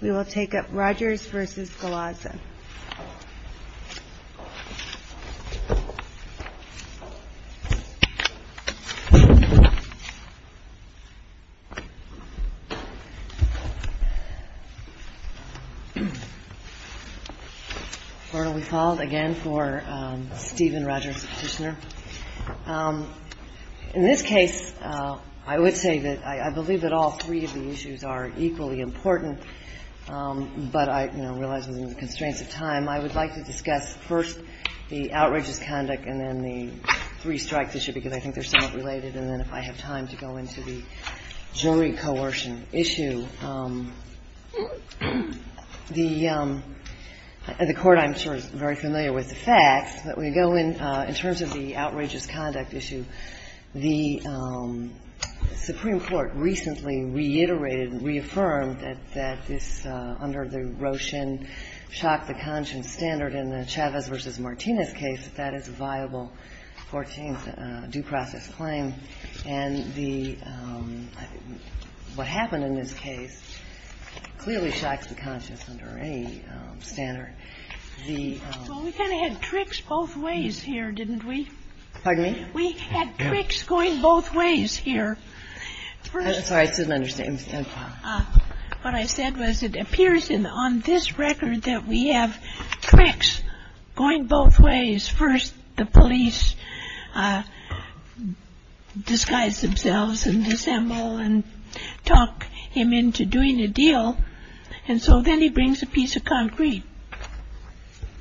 We will take up Rogers v. Galaza. I believe that all three of the issues are equally important, but I, you know, I would like to discuss first the outrageous conduct and then the three-strikes issue, because I think they're somewhat related, and then if I have time to go into the jury coercion issue. The Court, I'm sure, is very familiar with the facts, but we go in, in terms of the outrageous conduct issue, the Supreme Court recently reiterated and reaffirmed that this, under the Roshin shock-to-conscience standard in the Chavez v. Martinez case, that that is a viable 14th due process claim. And the – what happened in this case clearly shocks the conscience under any standard. The – Well, we kind of had tricks both ways here, didn't we? Pardon me? We had tricks going both ways here. I'm sorry, I didn't understand. What I said was it appears in – on this record that we have tricks going both ways. First, the police disguise themselves and disassemble and talk him into doing a deal, and so then he brings a piece of concrete.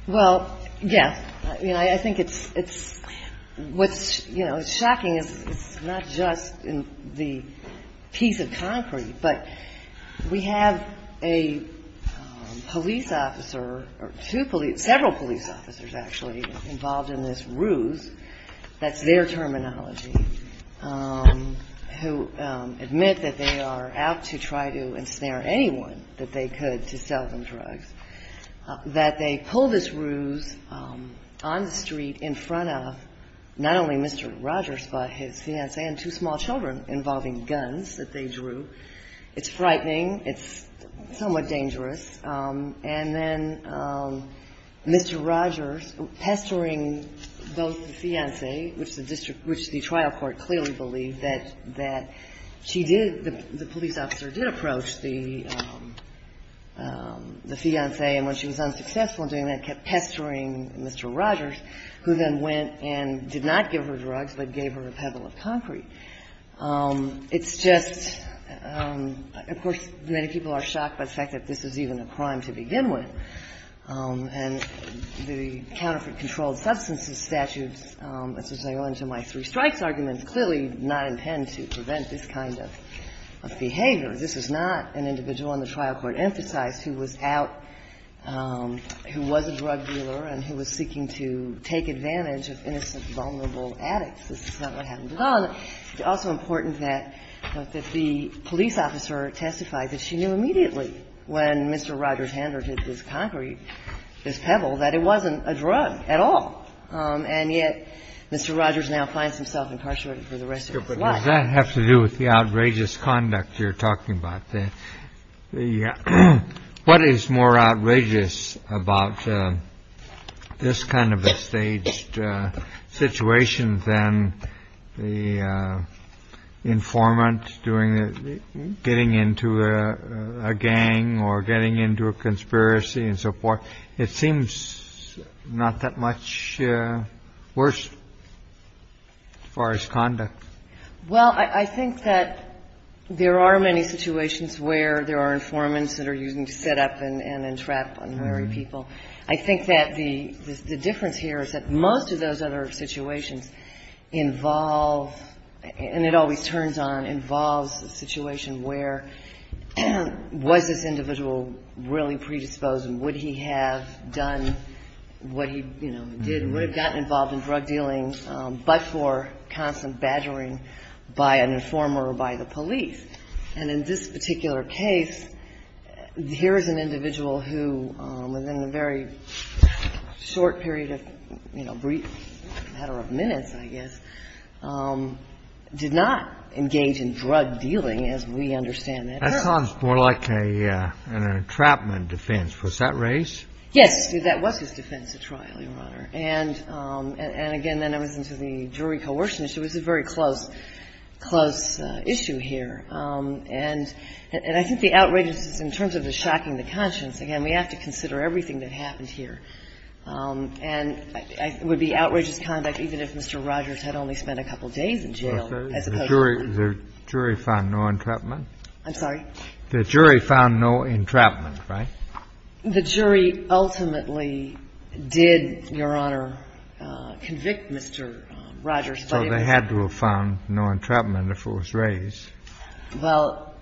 Well, yes. I mean, I think it's – it's – what's, you know, shocking is it's not just in the piece of concrete, but we have a police officer, or two police – several police officers, actually, involved in this ruse. That's their terminology, who admit that they are out to try to ensnare anyone that they could to sell them drugs. That they pull this ruse on the street in front of not only Mr. Rogers, but his fiancé and two small children involving guns that they drew. It's frightening. It's somewhat dangerous. And then Mr. Rogers pestering both the fiancé, which the district – which the trial court clearly believed that – that she did – the police officer did approach the fiancé, and when she was unsuccessful in doing that, kept pestering Mr. Rogers, who then went and did not give her drugs, but gave her a pebble of concrete. It's just – of course, many people are shocked by the fact that this is even a crime to begin with. And the counterfeit-controlled-substances statute, which is going to go into my three strikes argument, clearly did not intend to prevent this kind of behavior. This is not an individual on the trial court emphasized who was out – who was a drug dealer and who was seeking to take advantage of innocent, vulnerable addicts. This is not what happened at all. It's also important that the police officer testified that she knew immediately when Mr. Rogers handed her this concrete, this pebble, that it wasn't a drug at all. And yet, Mr. Rogers now finds himself incarcerated for the rest of his life. But does that have to do with the outrageous conduct you're talking about? The – what is more outrageous about this kind of a staged situation than the informant doing – getting into a gang or getting into a conspiracy and so forth? It seems not that much worse as far as conduct. Well, I think that there are many situations where there are informants that are used to set up and entrap unmarried people. I think that the difference here is that most of those other situations involve – and it always turns on – involves a situation where was this individual really predisposed and would he have done what he, you know, did? Would he have gotten involved in drug dealing but for constant badgering by an informer or by the police? And in this particular case, here is an individual who, within a very short period of, you know, brief matter of minutes, I guess, did not engage in drug dealing as we understand that. That sounds more like an entrapment defense. Was that raised? Yes. That was his defense at trial, Your Honor. And again, then I was into the jury coercion issue. It was a very close issue here. And I think the outrageous is in terms of the shocking the conscience. Again, we have to consider everything that happened here. And it would be outrageous conduct even if Mr. Rogers had only spent a couple days in jail. The jury found no entrapment? I'm sorry? The jury found no entrapment, right? The jury ultimately did, Your Honor, convict Mr. Rogers. So they had to have found no entrapment if it was raised. Well,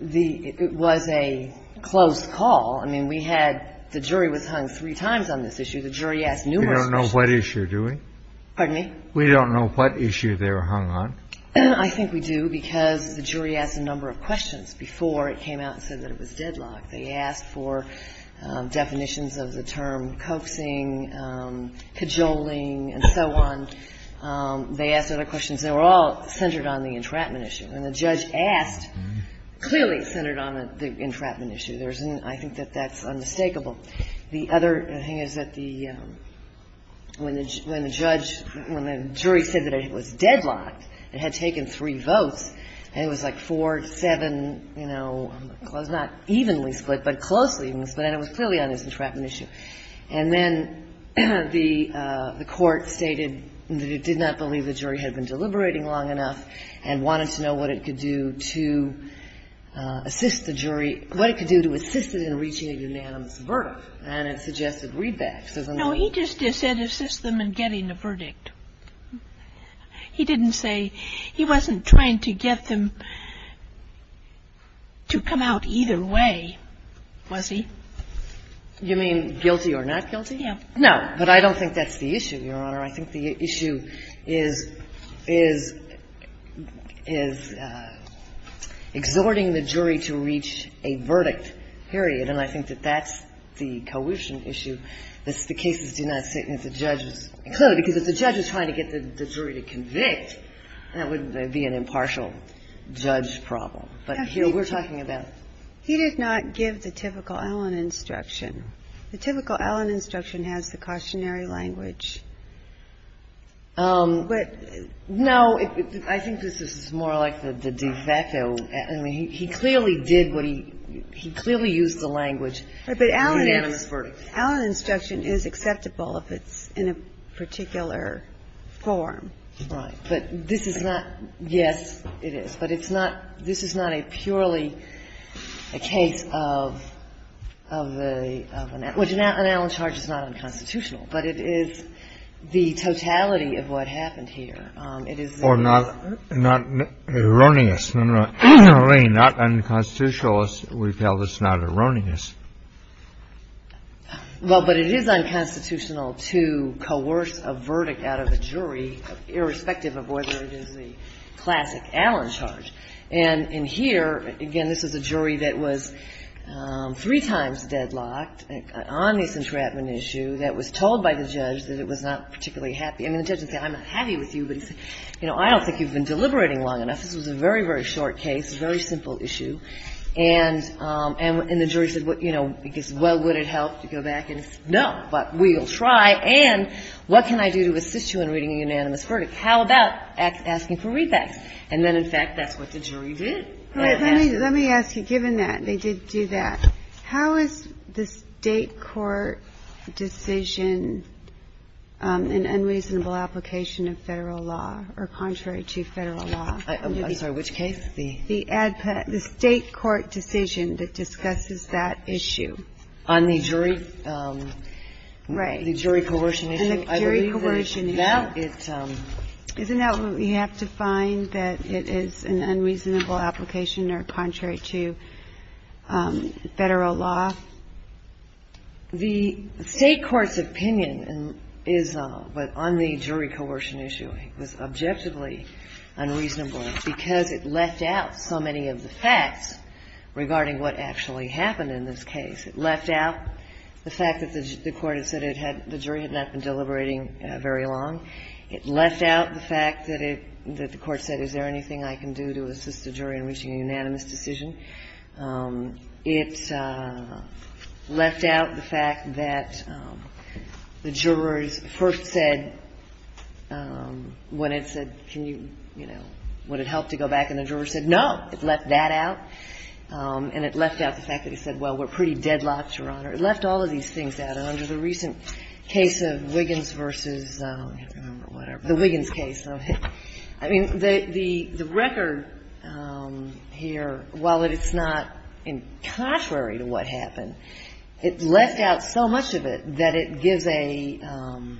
it was a close call. I mean, we had the jury was hung three times on this issue. The jury asked numerous questions. We don't know what issue, do we? Pardon me? We don't know what issue they were hung on. I think we do because the jury asked a number of questions before it came out and said that it was deadlocked. They asked for definitions of the term coaxing, cajoling, and so on. They asked other questions. They were all centered on the entrapment issue. And the judge asked clearly centered on the entrapment issue. I think that that's unmistakable. The other thing is that when the jury said that it was deadlocked, it had taken three votes, and it was like four, seven, you know, not evenly split, but closely even split, and it was clearly on this entrapment issue. And then the court stated that it did not believe the jury had been deliberating long enough and wanted to know what it could do to assist the jury, what it could do to assist it in reaching a unanimous verdict. And it suggested readbacks. No, he just said assist them in getting a verdict. He didn't say he wasn't trying to get them to come out either way, was he? You mean guilty or not guilty? No, but I don't think that's the issue, Your Honor. I think the issue is exhorting the jury to reach a verdict, period. And I think that that's the coercion issue that the cases do not sit as the judges include, because if the judge is trying to get the jury to convict, that would be an impartial judge problem. But, you know, we're talking about. He did not give the typical Allen instruction. The typical Allen instruction has the cautionary language. But. No. I think this is more like the de facto. I mean, he clearly did what he he clearly used the language. But Allen instruction is acceptable if it's in a particular form. Right. But this is not. Yes, it is. But it's not. This is not a purely a case of an Allen charge. It's not unconstitutional. But it is the totality of what happened here. It is. Or not erroneous. Not unconstitutional. We've held it's not erroneous. Well, but it is unconstitutional to coerce a verdict out of a jury, irrespective of whether it is the classic Allen charge. And in here, again, this is a jury that was three times deadlocked on this entrapment issue that was told by the judge that it was not particularly happy. I mean, the judge didn't say, I'm not happy with you. But he said, you know, I don't think you've been deliberating long enough. This was a very, very short case, a very simple issue. And the jury said, you know, well, would it help to go back? And he said, no. But we'll try. And what can I do to assist you in reading a unanimous verdict? How about asking for readbacks? And then, in fact, that's what the jury did. Let me ask you, given that they did do that, how is the state court decision an unreasonable application of Federal law or contrary to Federal law? I'm sorry. Which case? The state court decision that discusses that issue. On the jury? Right. On the jury coercion issue. On the jury coercion issue. Isn't that what we have to find, that it is an unreasonable application or contrary to Federal law? The state court's opinion is on the jury coercion issue. It was objectively unreasonable because it left out so many of the facts regarding what actually happened in this case. It left out the fact that the court had said the jury had not been deliberating very long. It left out the fact that the court said, is there anything I can do to assist the jury in reaching a unanimous decision? It left out the fact that the jurors first said, when it said, can you, you know, would it help to go back? And the jurors said, no. It left that out. And it left out the fact that it said, well, we're pretty deadlocked, Your Honor. It left all of these things out. And under the recent case of Wiggins versus the Wiggins case, I mean, the record here, while it's not contrary to what happened, it left out so much of it that it gives an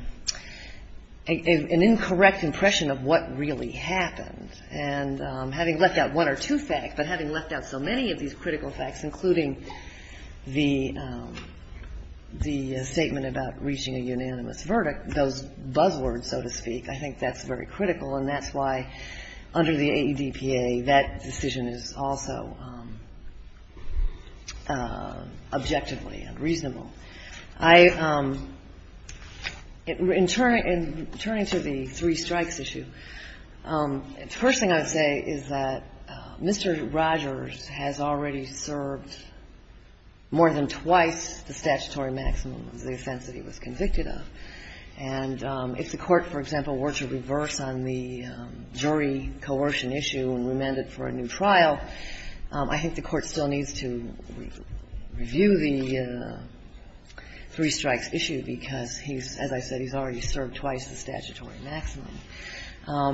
incorrect impression of what really happened. And having left out one or two facts, but having left out so many of these critical facts, including the statement about reaching a unanimous verdict, those buzzwords, so to speak, I think that's very critical. And that's why, under the AEDPA, that decision is also objectively unreasonable. I – in turning to the three strikes issue, the first thing I would say is that Mr. Rogers has already served more than twice the statutory maximum of the offense that he was convicted of. And if the Court, for example, were to reverse on the jury coercion issue and remand it for a new trial, I think the Court still needs to review the three strikes issue because he's – as I said, he's already served twice the statutory maximum.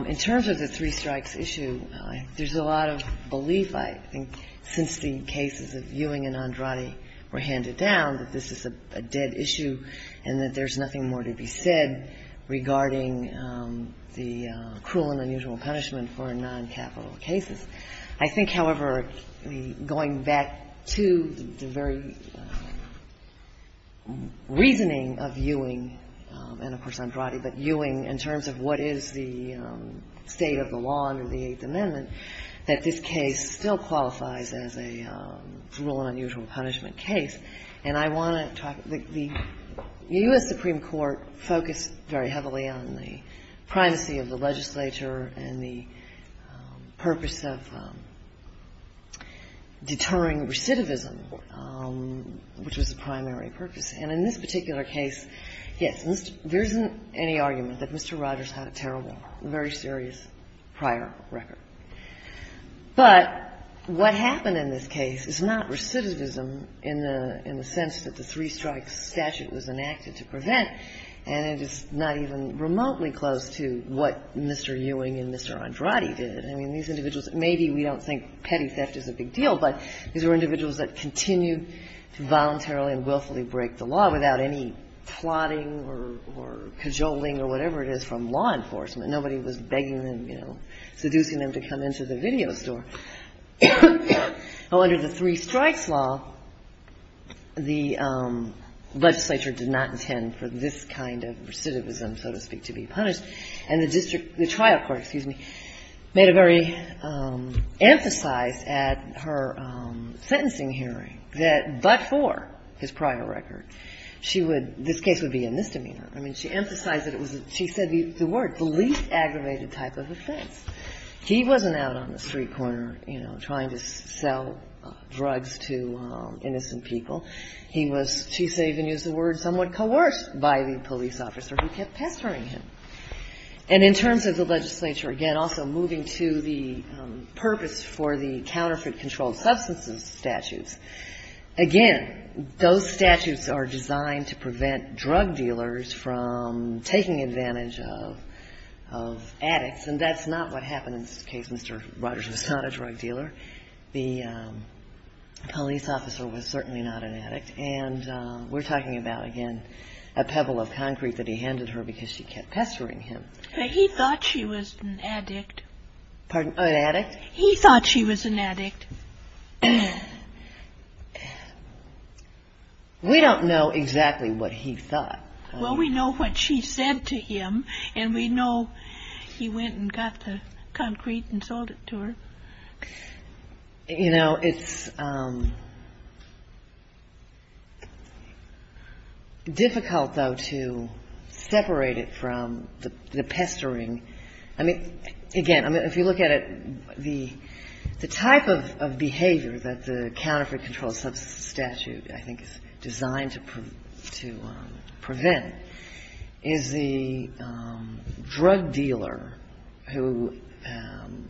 In terms of the three strikes issue, there's a lot of belief, I think, since the cases of Ewing and Andrade were handed down, that this is a dead issue and that there's cruel and unusual punishment for noncapital cases. I think, however, going back to the very reasoning of Ewing and, of course, Andrade, but Ewing in terms of what is the state of the law under the Eighth Amendment, that this case still qualifies as a cruel and unusual punishment case. And I want to talk – the U.S. Supreme Court focused very heavily on the primacy of the legislature and the purpose of deterring recidivism, which was the primary purpose. And in this particular case, yes, there isn't any argument that Mr. Rogers had a terrible, very serious prior record. But what happened in this case is not recidivism in the sense that the three strikes statute was enacted to prevent, and it is not even remotely close to what Mr. Ewing and Mr. Andrade did. I mean, these individuals – maybe we don't think petty theft is a big deal, but these were individuals that continued to voluntarily and willfully break the law without any plotting or cajoling or whatever it is from law enforcement. Nobody was begging them, you know, seducing them to come into the video store. Well, under the three strikes law, the legislature did not intend for this kind of recidivism, so to speak, to be punished. And the district – the trial court, excuse me, made a very – emphasized at her sentencing hearing that but for his prior record, she would – this case would be a misdemeanor. I mean, she emphasized that it was a – she said the word, the least aggravated type of offense. He wasn't out on the street corner, you know, trying to sell drugs to innocent people. He was – she even used the word somewhat coerced by the police officer who kept pestering him. And in terms of the legislature, again, also moving to the taking advantage of addicts, and that's not what happened in this case. Mr. Rogers was not a drug dealer. The police officer was certainly not an addict. And we're talking about, again, a pebble of concrete that he handed her because she kept pestering him. He thought she was an addict. He thought she was an addict. We don't know exactly what he thought. Well, we know what she said to him, and we know he went and got the concrete and sold it to her. You know, it's difficult, though, to separate it from the pestering. I mean, again, I mean, if you look at it, the – the type of – the type of – the type of behavior that the counterfeit controlled substance statute, I think, is designed to prevent is the drug dealer who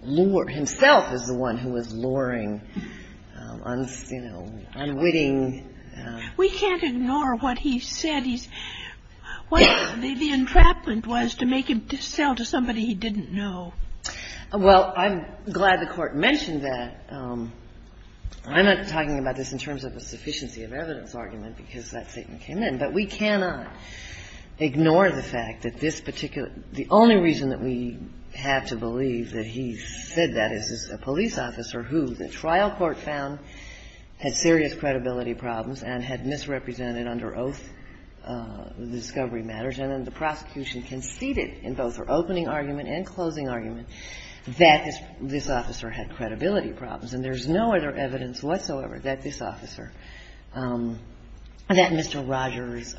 lured – himself is the one who was luring, you know, unwitting – We can't ignore what he said. He's – the entrapment was to make him sell to somebody he didn't know. Well, I'm glad the Court mentioned that. I'm not talking about this in terms of a sufficiency of evidence argument because that statement came in. But we cannot ignore the fact that this particular – the only reason that we have to believe that he said that is as a police officer who the trial court found had conceded in both her opening argument and closing argument that this officer had credibility problems. And there's no other evidence whatsoever that this officer – that Mr. Rogers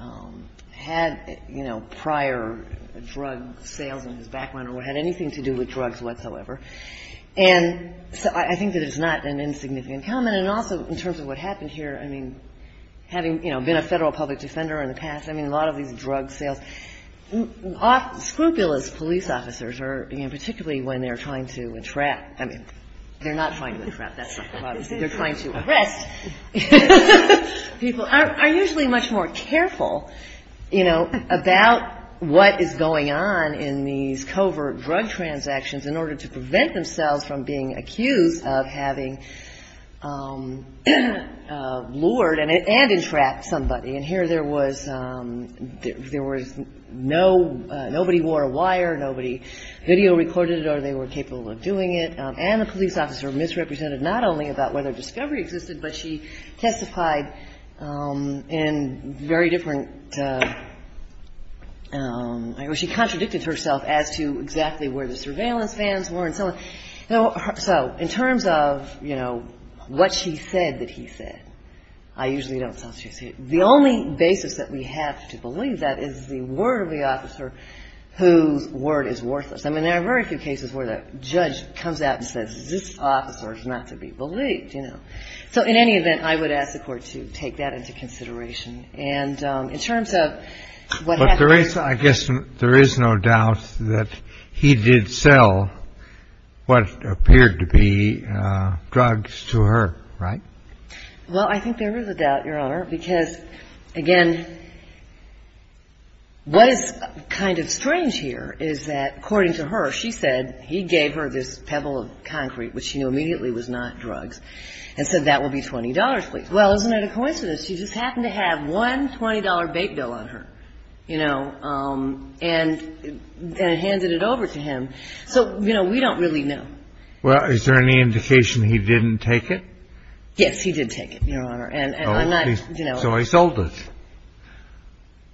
had, you know, prior drug sales in his background or had anything to do with drugs whatsoever. And so I think that it's not an insignificant comment. And also in terms of what happened here, I mean, having, you know, been a federal public defender in the past, I mean, a lot of these drug sales – scrupulous police officers are – you know, particularly when they're trying to entrap – I mean, they're not trying to entrap. That's not the bottom line. They're trying to arrest people – are usually much more careful, you know, about what is going on in these covert drug transactions in order to prevent themselves from being accused of having lured and entrapped somebody. And here there was – there was no – nobody wore a wire, nobody video-recorded it, or they were capable of doing it. And the police officer misrepresented not only about whether discovery existed, but she testified in very different – she contradicted herself as to exactly where the surveillance vans were and so on. So in terms of, you know, what she said that he said, I usually don't substitute it. The only basis that we have to believe that is the word of the officer whose word is worthless. I mean, there are very few cases where the judge comes out and says, this officer is not to be believed, you know. So in any event, I would ask the Court to take that into consideration. And in terms of what happened – I think there is a doubt, Your Honor, because, again, what is kind of strange here is that, according to her, she said he gave her this pebble of concrete, which she knew immediately was not drugs, and said, that will be $20, please. Well, isn't it a coincidence? She just happened to have one $20 bait bill on her, you know, and handed it over to him. So, you know, we don't really know. Well, is there any indication he didn't take it? Yes, he did take it, Your Honor. And I'm not – So he sold it.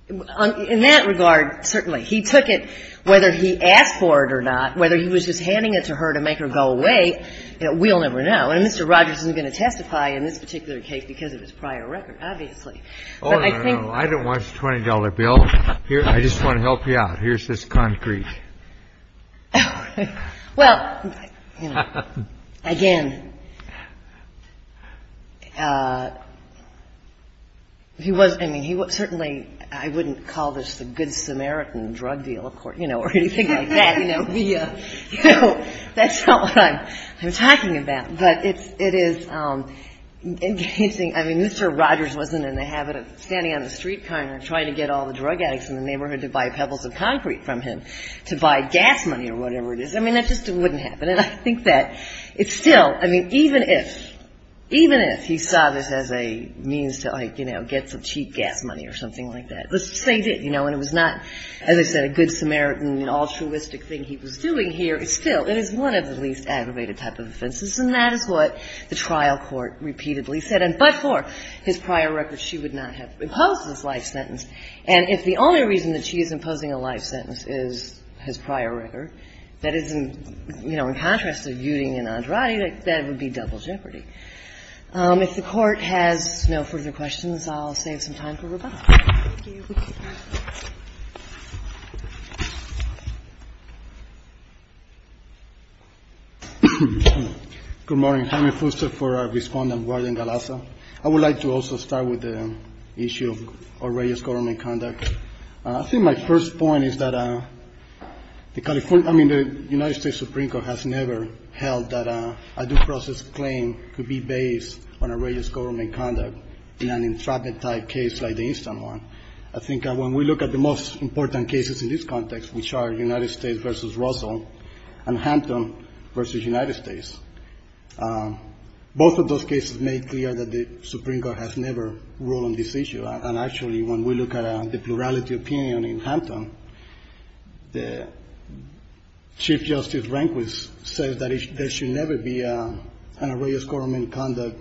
In that regard, certainly. He took it, whether he asked for it or not, whether he was just handing it to her to make her go away, we'll never know. And Mr. Rogers isn't going to testify in this particular case because of his prior record, obviously. Oh, no, no, no. I don't want your $20 bill. I just want to help you out. Here's this concrete. Well, you know, again, he was – I mean, he certainly – I wouldn't call this the good Samaritan drug deal, of course, you know, or anything like that, you know. You know, that's not what I'm talking about. But it is engaging – I mean, Mr. Rogers wasn't in the habit of standing on the street corner trying to get all the drug addicts in the neighborhood to buy pebbles of concrete from him to buy gas money or whatever it is. I mean, that just wouldn't happen. And I think that it's still – I mean, even if – even if he saw this as a means to, like, you know, get some cheap gas money or something like that, let's just save it, you know. And it was not, as I said, a good Samaritan, an altruistic thing he was doing here. It's still – it is one of the least aggravated type of offenses. And that is what the trial court repeatedly said. And but for his prior record, she would not have imposed this life sentence. And if the only reason that she is imposing a life sentence is his prior record, that is in, you know, in contrast of Yuting and Andrade, that would be double jeopardy. If the Court has no further questions, I'll save some time for rebuttal. Thank you. Good morning. Jaime Fuster for our Respondent, Warden Galaza. I would like to also start with the issue of outrageous government conduct. I think my first point is that the California – I mean, the United States Supreme Court has never held that a due process claim could be based on outrageous government conduct in an intractable type case like the instant one. I think when we look at the most important cases in this context, which are United States v. Russell and Hampton v. United States, both of those cases make clear that the Supreme Court has never ruled on this issue. And actually, when we look at the plurality opinion in Hampton, the Chief Justice Rehnquist says that there should never be an outrageous government conduct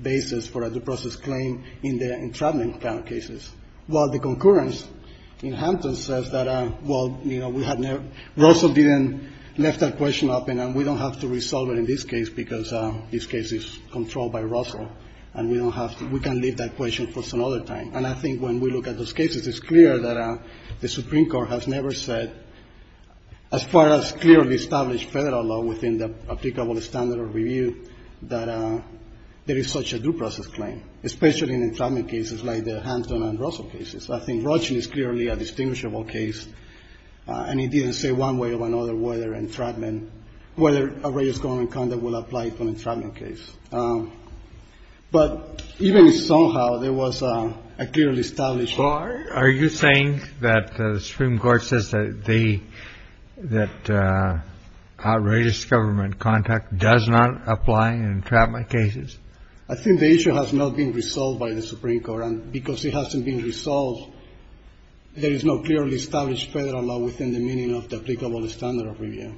basis for a due process claim in the intractable kind of cases, while the concurrence in Hampton says that, well, you know, we have never – Russell didn't lift that question up, and we don't have to resolve it in this case because this case is controlled by Russell, and we don't have to – we can lift that question for some other time. And I think when we look at those cases, it's clear that the Supreme Court has never said, as far as clearly established Federal law within the applicable standard of review, that there is such a due process claim, especially in entrapment cases like the Hampton and Russell cases. I think Rushing is clearly a distinguishable case, and it didn't say one way or another whether entrapment – whether outrageous government conduct will apply to an entrapment case. But even somehow, there was a clearly established – Well, are you saying that the Supreme Court says that they – that outrageous government conduct does not apply in entrapment cases? I think the issue has not been resolved by the Supreme Court, and because it hasn't been resolved, there is no clearly established Federal law within the meaning of the applicable standard of review.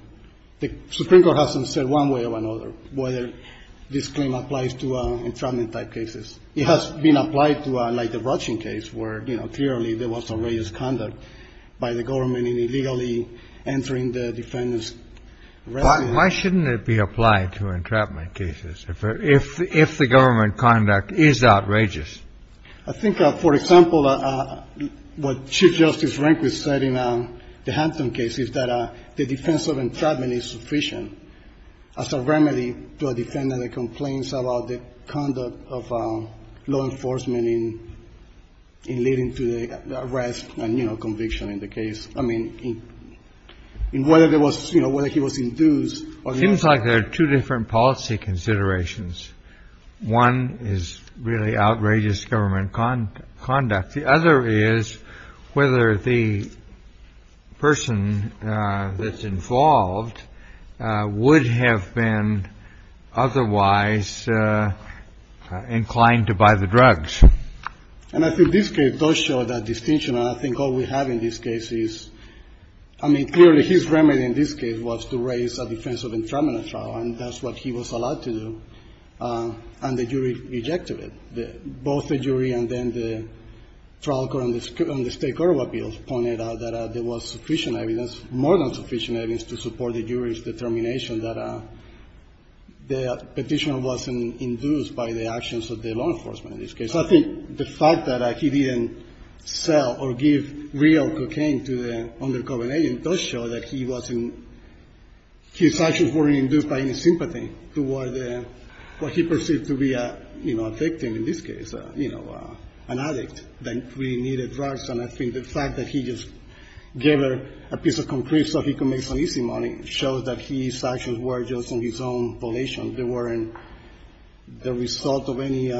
The Supreme Court hasn't said one way or another whether this claim applies to entrapment type cases. It has been applied to, like, the Rushing case where, you know, clearly there was outrageous conduct by the government in illegally entering the defendant's residence. Why shouldn't it be applied to entrapment cases if the government conduct is outrageous? I think, for example, what Chief Justice Rehnquist said in the Hampton case is that the defense of entrapment is sufficient as a remedy to a defendant that complains about the conduct of law enforcement in leading to the arrest and, you know, conviction in the case. I mean, in whether there was – you know, whether he was in dues or not. It seems like there are two different policy considerations. One is really outrageous government conduct. The other is whether the person that's involved would have been otherwise inclined to buy the drugs. And I think this case does show that distinction, and I think all we have in this case is – I mean, clearly his remedy in this case was to raise a defense of entrapment trial, and that's what he was allowed to do. And the jury rejected it. Both the jury and then the trial court and the State Court of Appeals pointed out that there was sufficient evidence, more than sufficient evidence, to support the jury's determination that the Petitioner wasn't in dues by the actions of the law enforcement in this case. I think the fact that he didn't sell or give real cocaine to the undercover agent does show that he wasn't – his actions weren't induced by any sympathy toward what he perceived to be a, you know, a victim in this case, you know, an addict that really needed drugs. And I think the fact that he just gave her a piece of concrete so he could make some easy money shows that his actions were just on his own volition. They weren't the result of any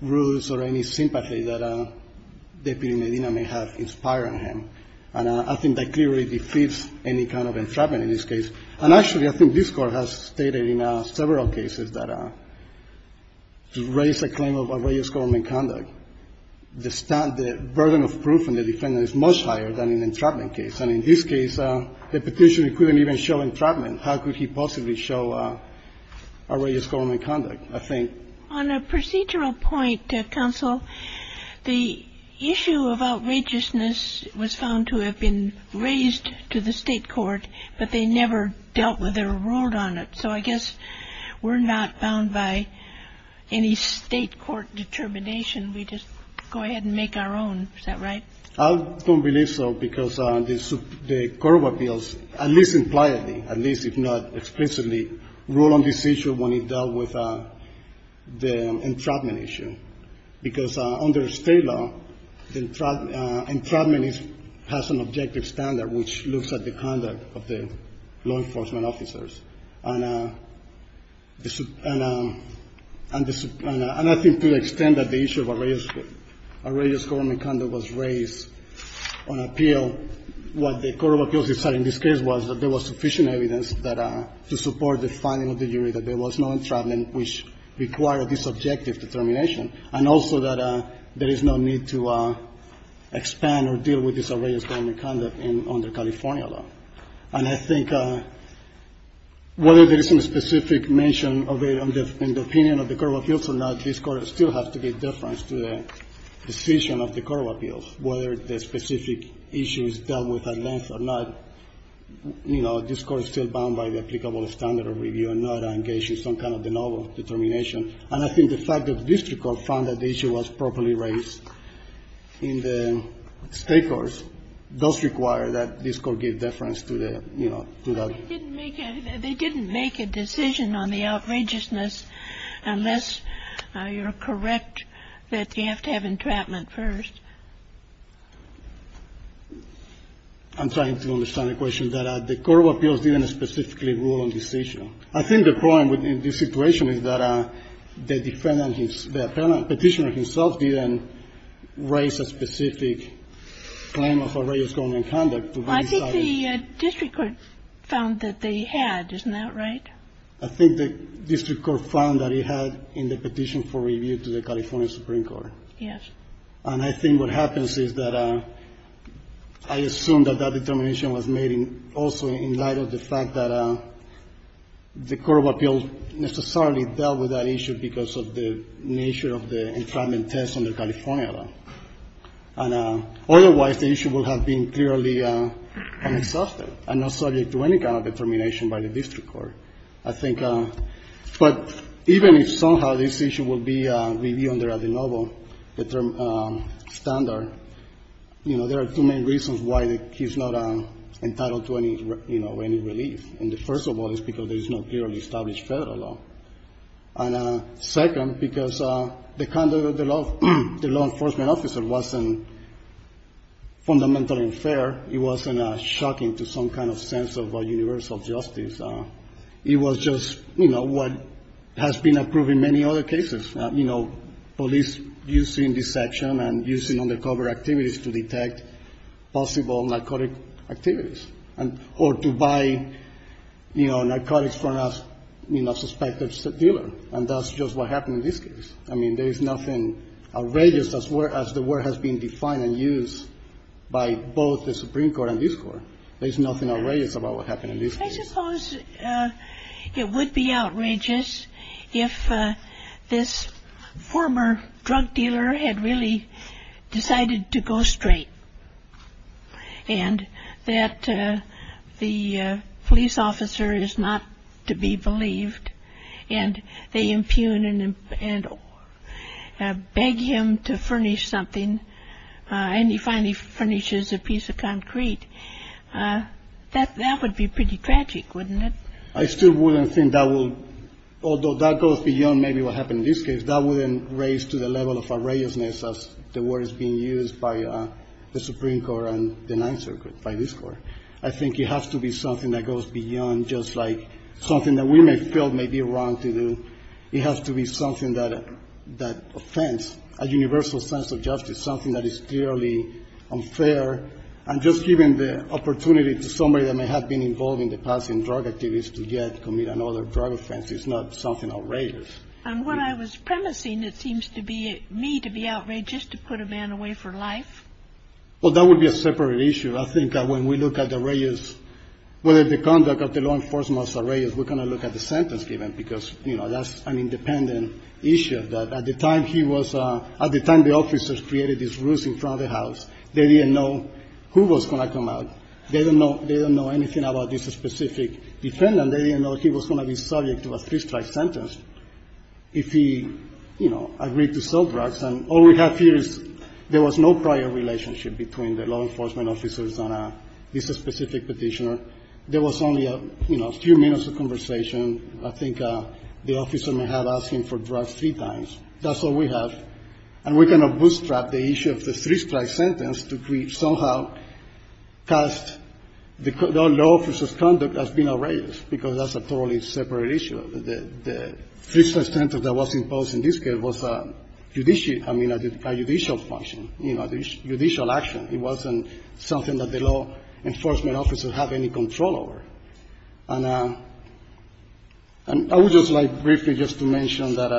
rules or any sympathy that Deputy Medina may have inspired him. And I think that clearly defeats any kind of entrapment in this case. And actually, I think this Court has stated in several cases that to raise a claim of outrageous government conduct, the burden of proof in the defendant is much higher than in an entrapment case. And in this case, the Petitioner couldn't even show entrapment. On a procedural point, Counsel, the issue of outrageousness was found to have been raised to the State court, but they never dealt with it or ruled on it. So I guess we're not bound by any State court determination. We just go ahead and make our own. Is that right? I don't believe so because the Court of Appeals, at least impliedly, at least if not explicitly, ruled on this issue when it dealt with the entrapment issue. Because under State law, entrapment has an objective standard which looks at the conduct of the law enforcement officers. And I think to the extent that the issue of outrageous government conduct was raised on appeal, what the Court of Appeals decided in this case was that there was sufficient evidence that to support the finding of the jury that there was no entrapment which required this objective determination, and also that there is no need to expand or deal with this outrageous government conduct under California law. And I think whether there is some specific mention of it in the opinion of the Court of Appeals or not, this Court still has to give deference to the decision of the Court of Appeals, whether the specific issue is dealt with at length or not. You know, this Court is still bound by the applicable standard of review and not engage in some kind of de novo determination. And I think the fact that the district court found that the issue was properly raised in the State courts does require that this Court give deference to the, you know, to that. They didn't make a decision on the outrageousness unless you're correct that you have to have entrapment first. I'm trying to understand the question. That the Court of Appeals didn't specifically rule on this issue. I think the point in this situation is that the defendant, the Petitioner himself didn't raise a specific claim of outrageous government conduct to be decided. I think the district court found that they had. Isn't that right? I think the district court found that it had in the petition for review to the California Supreme Court. Yes. And I think what happens is that I assume that that determination was made also in light of the fact that the Court of Appeals necessarily dealt with that issue because of the nature of the entrapment test on the California law. And otherwise, the issue would have been clearly unsubstantiated and not subject to any kind of determination by the district court. I think, but even if somehow this issue will be reviewed under the novel, the term standard, you know, there are too many reasons why he's not entitled to any, you know, any relief. And the first of all is because there is no clearly established Federal law. And second, because the conduct of the law enforcement officer wasn't fundamentally unfair. It wasn't shocking to some kind of sense of universal justice. It was just, you know, what has been approved in many other cases, you know, police using deception and using undercover activities to detect possible narcotic activities or to buy, you know, narcotics from a, you know, suspected dealer. And that's just what happened in this case. I mean, there's nothing outrageous as the word has been defined and used by both the Supreme Court and this Court. There's nothing outrageous about what happened in this case. I suppose it would be outrageous if this former drug dealer had really decided to go straight and that the police officer is not to be believed and they impugn and beg him to furnish something and he finally furnishes a piece of concrete. That would be pretty tragic, wouldn't it? I still wouldn't think that will, although that goes beyond maybe what happened in this case, that wouldn't raise to the level of outrageousness as the word is being used by the Supreme Court and the Ninth Circuit, by this Court. I think it has to be something that goes beyond just like something that we may feel may be wrong to do. It has to be something that offends, a universal sense of justice, something that is clearly unfair. And just giving the opportunity to somebody that may have been involved in the past in drug activities to yet commit another drug offense is not something outrageous. On what I was premising, it seems to me to be outrageous to put a man away for life. Well, that would be a separate issue. I think that when we look at the outrageous, whether the conduct of the law enforcement officer was outrageous, we're going to look at the sentence given because, you know, that's an independent issue. At the time he was at the time the officers created this ruse in front of the house, they didn't know who was going to come out. They didn't know anything about this specific defendant. They didn't know he was going to be subject to a three-strike sentence if he, you know, agreed to sell drugs. And all we have here is there was no prior relationship between the law enforcement officers on this specific Petitioner. There was only, you know, a few minutes of conversation. I think the officer may have asked him for drugs three times. That's all we have. And we're going to bootstrap the issue of the three-strike sentence to somehow cast the law officer's conduct as being outrageous, because that's a totally separate issue. The three-strike sentence that was imposed in this case was a judicial function, you know, a judicial action. It wasn't something that the law enforcement officers have any control over. And I would just like briefly just to mention that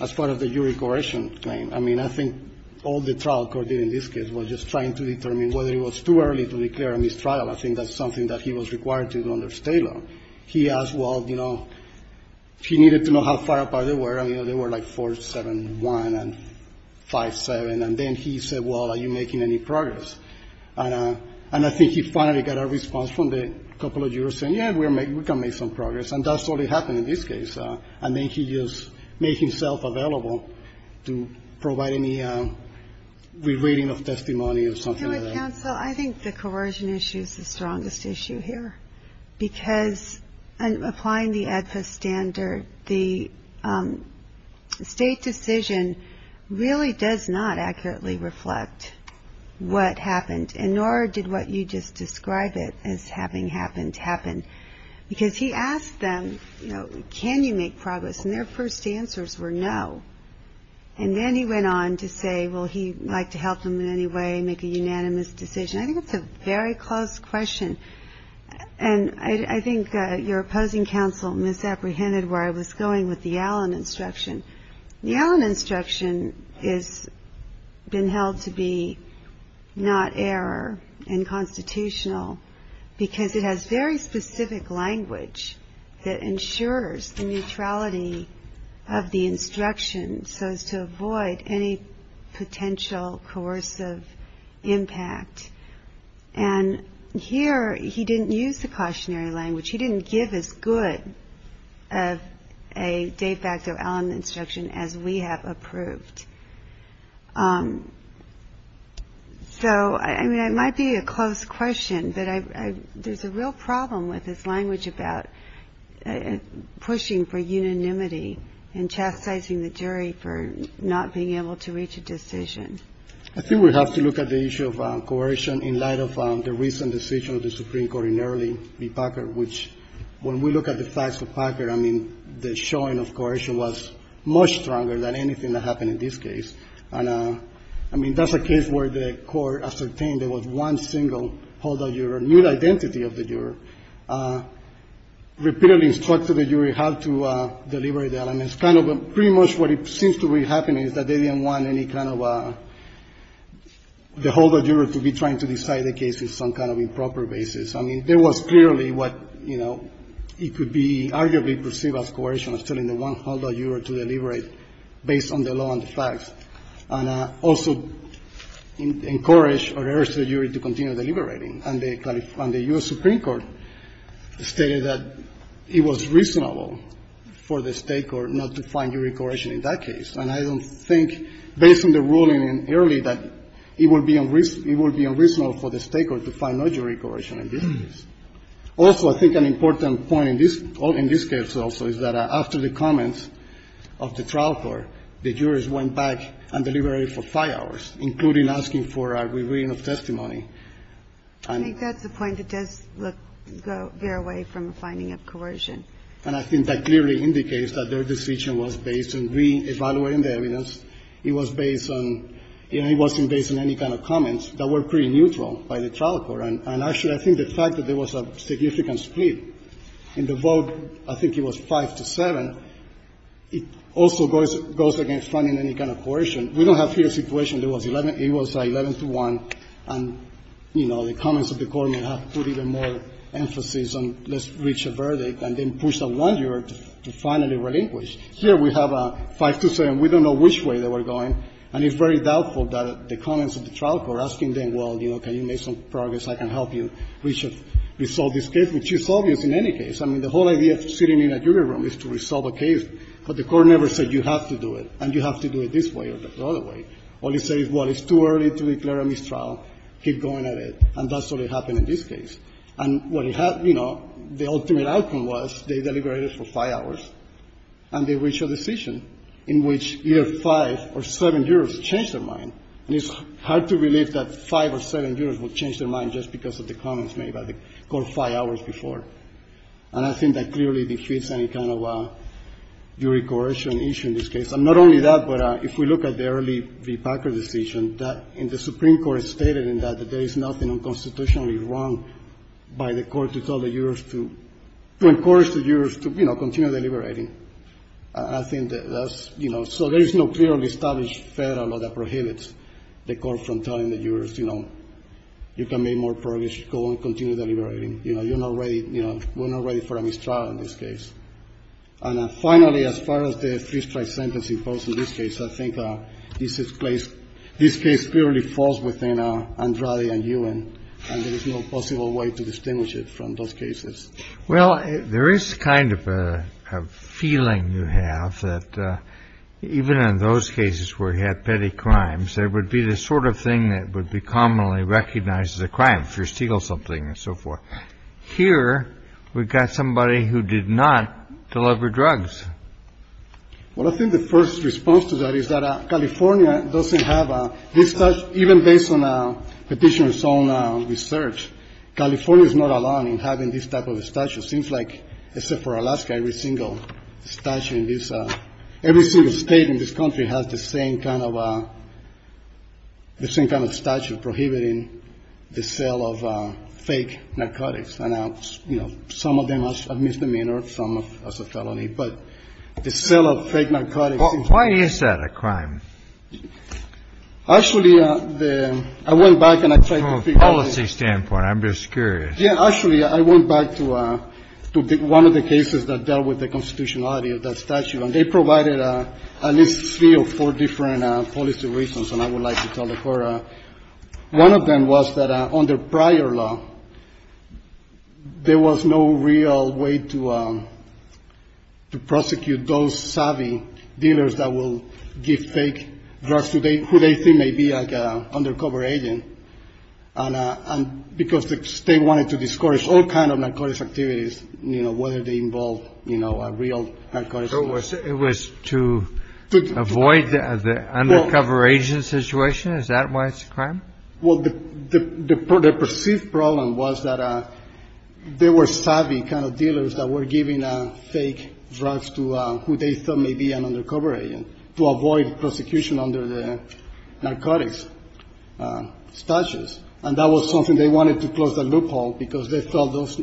as part of the jury coercion claim, I mean, I think all the trial court did in this case was just trying to determine whether it was too early to declare a mistrial. I think that's something that he was required to do under state law. He asked, well, you know, he needed to know how far apart they were. I mean, they were like 4-7-1 and 5-7, and then he said, well, are you making any progress? And I think he finally got a response from the couple of jurors saying, yeah, we can make some progress. And that's what happened in this case. And then he just made himself available to provide any re-reading of testimony or something like that. I think the coercion issue is the strongest issue here, because applying the AEDPA standard, the state decision really does not accurately reflect what happened. And nor did what you just described it as having happened, happen. Because he asked them, you know, can you make progress? And their first answers were no. And then he went on to say, well, he'd like to help them in any way, make a unanimous decision. I think it's a very close question. And I think your opposing counsel misapprehended where I was going with the Allen instruction. The Allen instruction has been held to be not error and constitutional because it has very specific language that ensures the neutrality of the instruction so as to avoid any potential coercive impact. And here he didn't use the cautionary language. He didn't give as good of a de facto Allen instruction as we have approved. So, I mean, it might be a close question, but there's a real problem with this language about pushing for unanimity and chastising the jury for not being able to reach a decision. I think we have to look at the issue of coercion in light of the recent decision of the Supreme Court in early B. Packard, which, when we look at the facts of Packard, I mean, the showing of coercion was much stronger than anything that happened in this case. And, I mean, that's a case where the Court ascertained there was one single holdout juror, new identity of the juror, repeatedly instructed the jury how to deliver the Allen. And it's kind of a pretty much what it seems to be happening is that they didn't want any kind of a the holdout juror to be trying to decide the case with some kind of improper basis. I mean, there was clearly what, you know, it could be arguably perceived as coercion of telling the one holdout juror to deliberate based on the law and the facts, and also encourage or urge the jury to continue deliberating. And the U.S. Supreme Court stated that it was reasonable for the State Court not to find jury coercion in that case. And I don't think, based on the ruling in early, that it would be unreasonable for the State Court to find no jury coercion in this case. Also, I think an important point in this case also is that after the comments of the trial court, the jurors went back and deliberated for five hours, including asking for a re-reading of testimony. And that's a point that does look go very far away from a finding of coercion. And I think that clearly indicates that their decision was based on re-evaluating the evidence. It was based on, you know, it wasn't based on any kind of comments that were pretty neutral by the trial court. And actually, I think the fact that there was a significant split in the vote, I think it was 5-7, it also goes against finding any kind of coercion. We don't have here a situation that was 11 to 1, and, you know, the comments of the court may have put even more emphasis on let's reach a verdict and then push a 1-year to finally relinquish. Here we have a 5-2-7, we don't know which way they were going, and it's very doubtful that the comments of the trial court asking them, well, you know, can you make some progress, I can help you resolve this case, which is obvious in any case. I mean, the whole idea of sitting in a jury room is to resolve a case, but the court never said you have to do it and you have to do it this way or the other way. All it says is, well, it's too early to declare a mistrial, keep going at it, and that's what happened in this case. And what it had, you know, the ultimate outcome was they deliberated for 5 hours and they reached a decision in which either 5 or 7 years changed their mind. And it's hard to believe that 5 or 7 years would change their mind just because of the comments made by the court 5 hours before. And I think that clearly defeats any kind of jury coercion issue in this case. And not only that, but if we look at the early v. Packer decision, that in the Supreme Court it was constitutionally wrong by the court to tell the jurors to encourage the jurors to, you know, continue deliberating. I think that's, you know, so there is no clearly established Federal law that prohibits the court from telling the jurors, you know, you can make more progress, go on, continue deliberating. You know, you're not ready, you know, we're not ready for a mistrial in this case. And finally, as far as the free strike sentence imposed in this case, I think this place, this case clearly falls within Andrade and Ewan, and there is no possible way to distinguish it from those cases. Well, there is kind of a feeling you have that even in those cases where he had petty crimes, there would be the sort of thing that would be commonly recognized as a crime, if you steal something and so forth. Here we've got somebody who did not deliver drugs. Well, I think the first response to that is that California doesn't have this, even based on Petitioner's own research, California is not alone in having this type of statute. Seems like, except for Alaska, every single statute in this, every single state in this country has the same kind of, the same kind of statute prohibiting the sale of fake narcotics. And, you know, some of them are misdemeanors, some as a felony, but the sale of fake narcotics. Well, why is that a crime? Actually, I went back and I tried to figure out. From a policy standpoint, I'm just curious. Yeah, actually, I went back to one of the cases that dealt with the constitutionality of that statute, and they provided at least three or four different policy reasons. And I would like to tell the court, one of them was that under prior law, there was no real way to prosecute those savvy dealers that will give fake drugs to who they think may be like an undercover agent, because the state wanted to discourage all kind of narcotics activities, you know, whether they involve, you know, a real narcotics. It was to avoid the undercover agent situation. Is that why it's a crime? Well, the perceived problem was that there were savvy kind of dealers that were giving fake drugs to who they thought may be an undercover agent to avoid prosecution under the narcotics statutes. And that was something they wanted to close the loophole because they felt those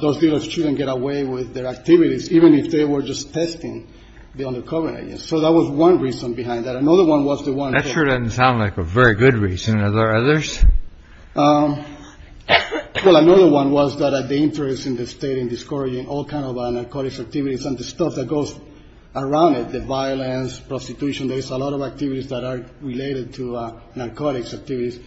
those shouldn't get away with their activities, even if they were just testing the undercover. So that was one reason behind that. Another one was the one. That sure doesn't sound like a very good reason. Are there others? Well, another one was that the interest in the state in discouraging all kind of narcotics activities and the stuff that goes around it, the violence, prostitution. There's a lot of activities that are related to narcotics activities.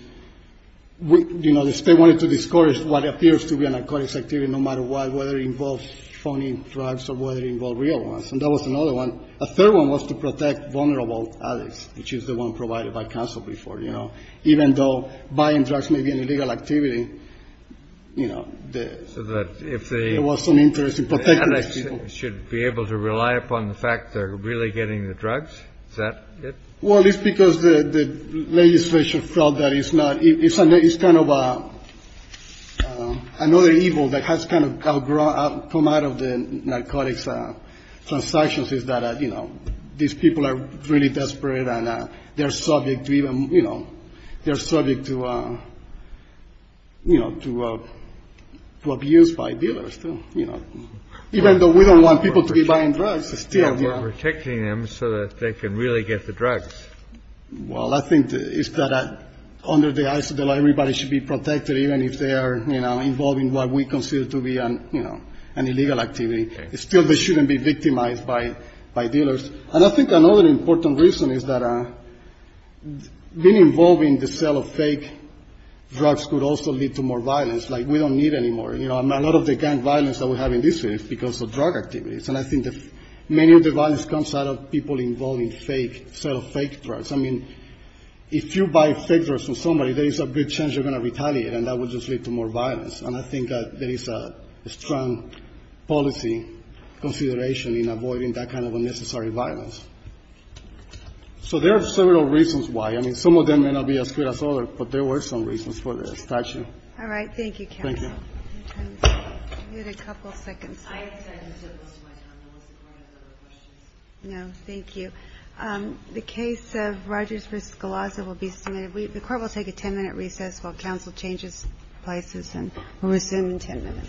We, you know, the state wanted to discourage what appears to be a narcotics activity, no matter what, whether it involves phony drugs or whether it involve real ones. And that was another one. A third one was to protect vulnerable addicts, which is the one provided by counsel before, you know, even though buying drugs may be an illegal activity. You know, so that if there was some interest in protecting should be able to rely upon the fact they're really getting the drugs that. Well, it's because the legislature felt that it's not it's an it's kind of another evil that has kind of come out of the narcotics transactions is that, you know, these people are really desperate and they're subject to even, you know, they're subject to, you know, to to abuse by dealers to, you know, even though we don't want people to be buying drugs is still protecting them so that they can really get the drugs. Well, I think it's that under the eyes of the law, everybody should be protected even if they are involved in what we consider to be an illegal activity. Still, they shouldn't be victimized by by dealers. And I think another important reason is that being involved in the sale of fake drugs could also lead to more violence like we don't need anymore. You know, a lot of the gang violence that we have in this is because of drug activities. And I think many of the violence comes out of people involved in fake sale of fake drugs. I mean, if you buy fake drugs from somebody, there is a big chance you're going to retaliate. And that would just lead to more violence. And I think that there is a strong policy consideration in avoiding that kind of unnecessary violence. So there are several reasons why. I mean, some of them may not be as good as others, but there were some reasons for the statute. All right. Thank you. Thank you. You had a couple of seconds. No, thank you. The case of Rogers versus Galazza will be submitted. The court will take a 10 minute recess while counsel changes places and resume in 10 minutes.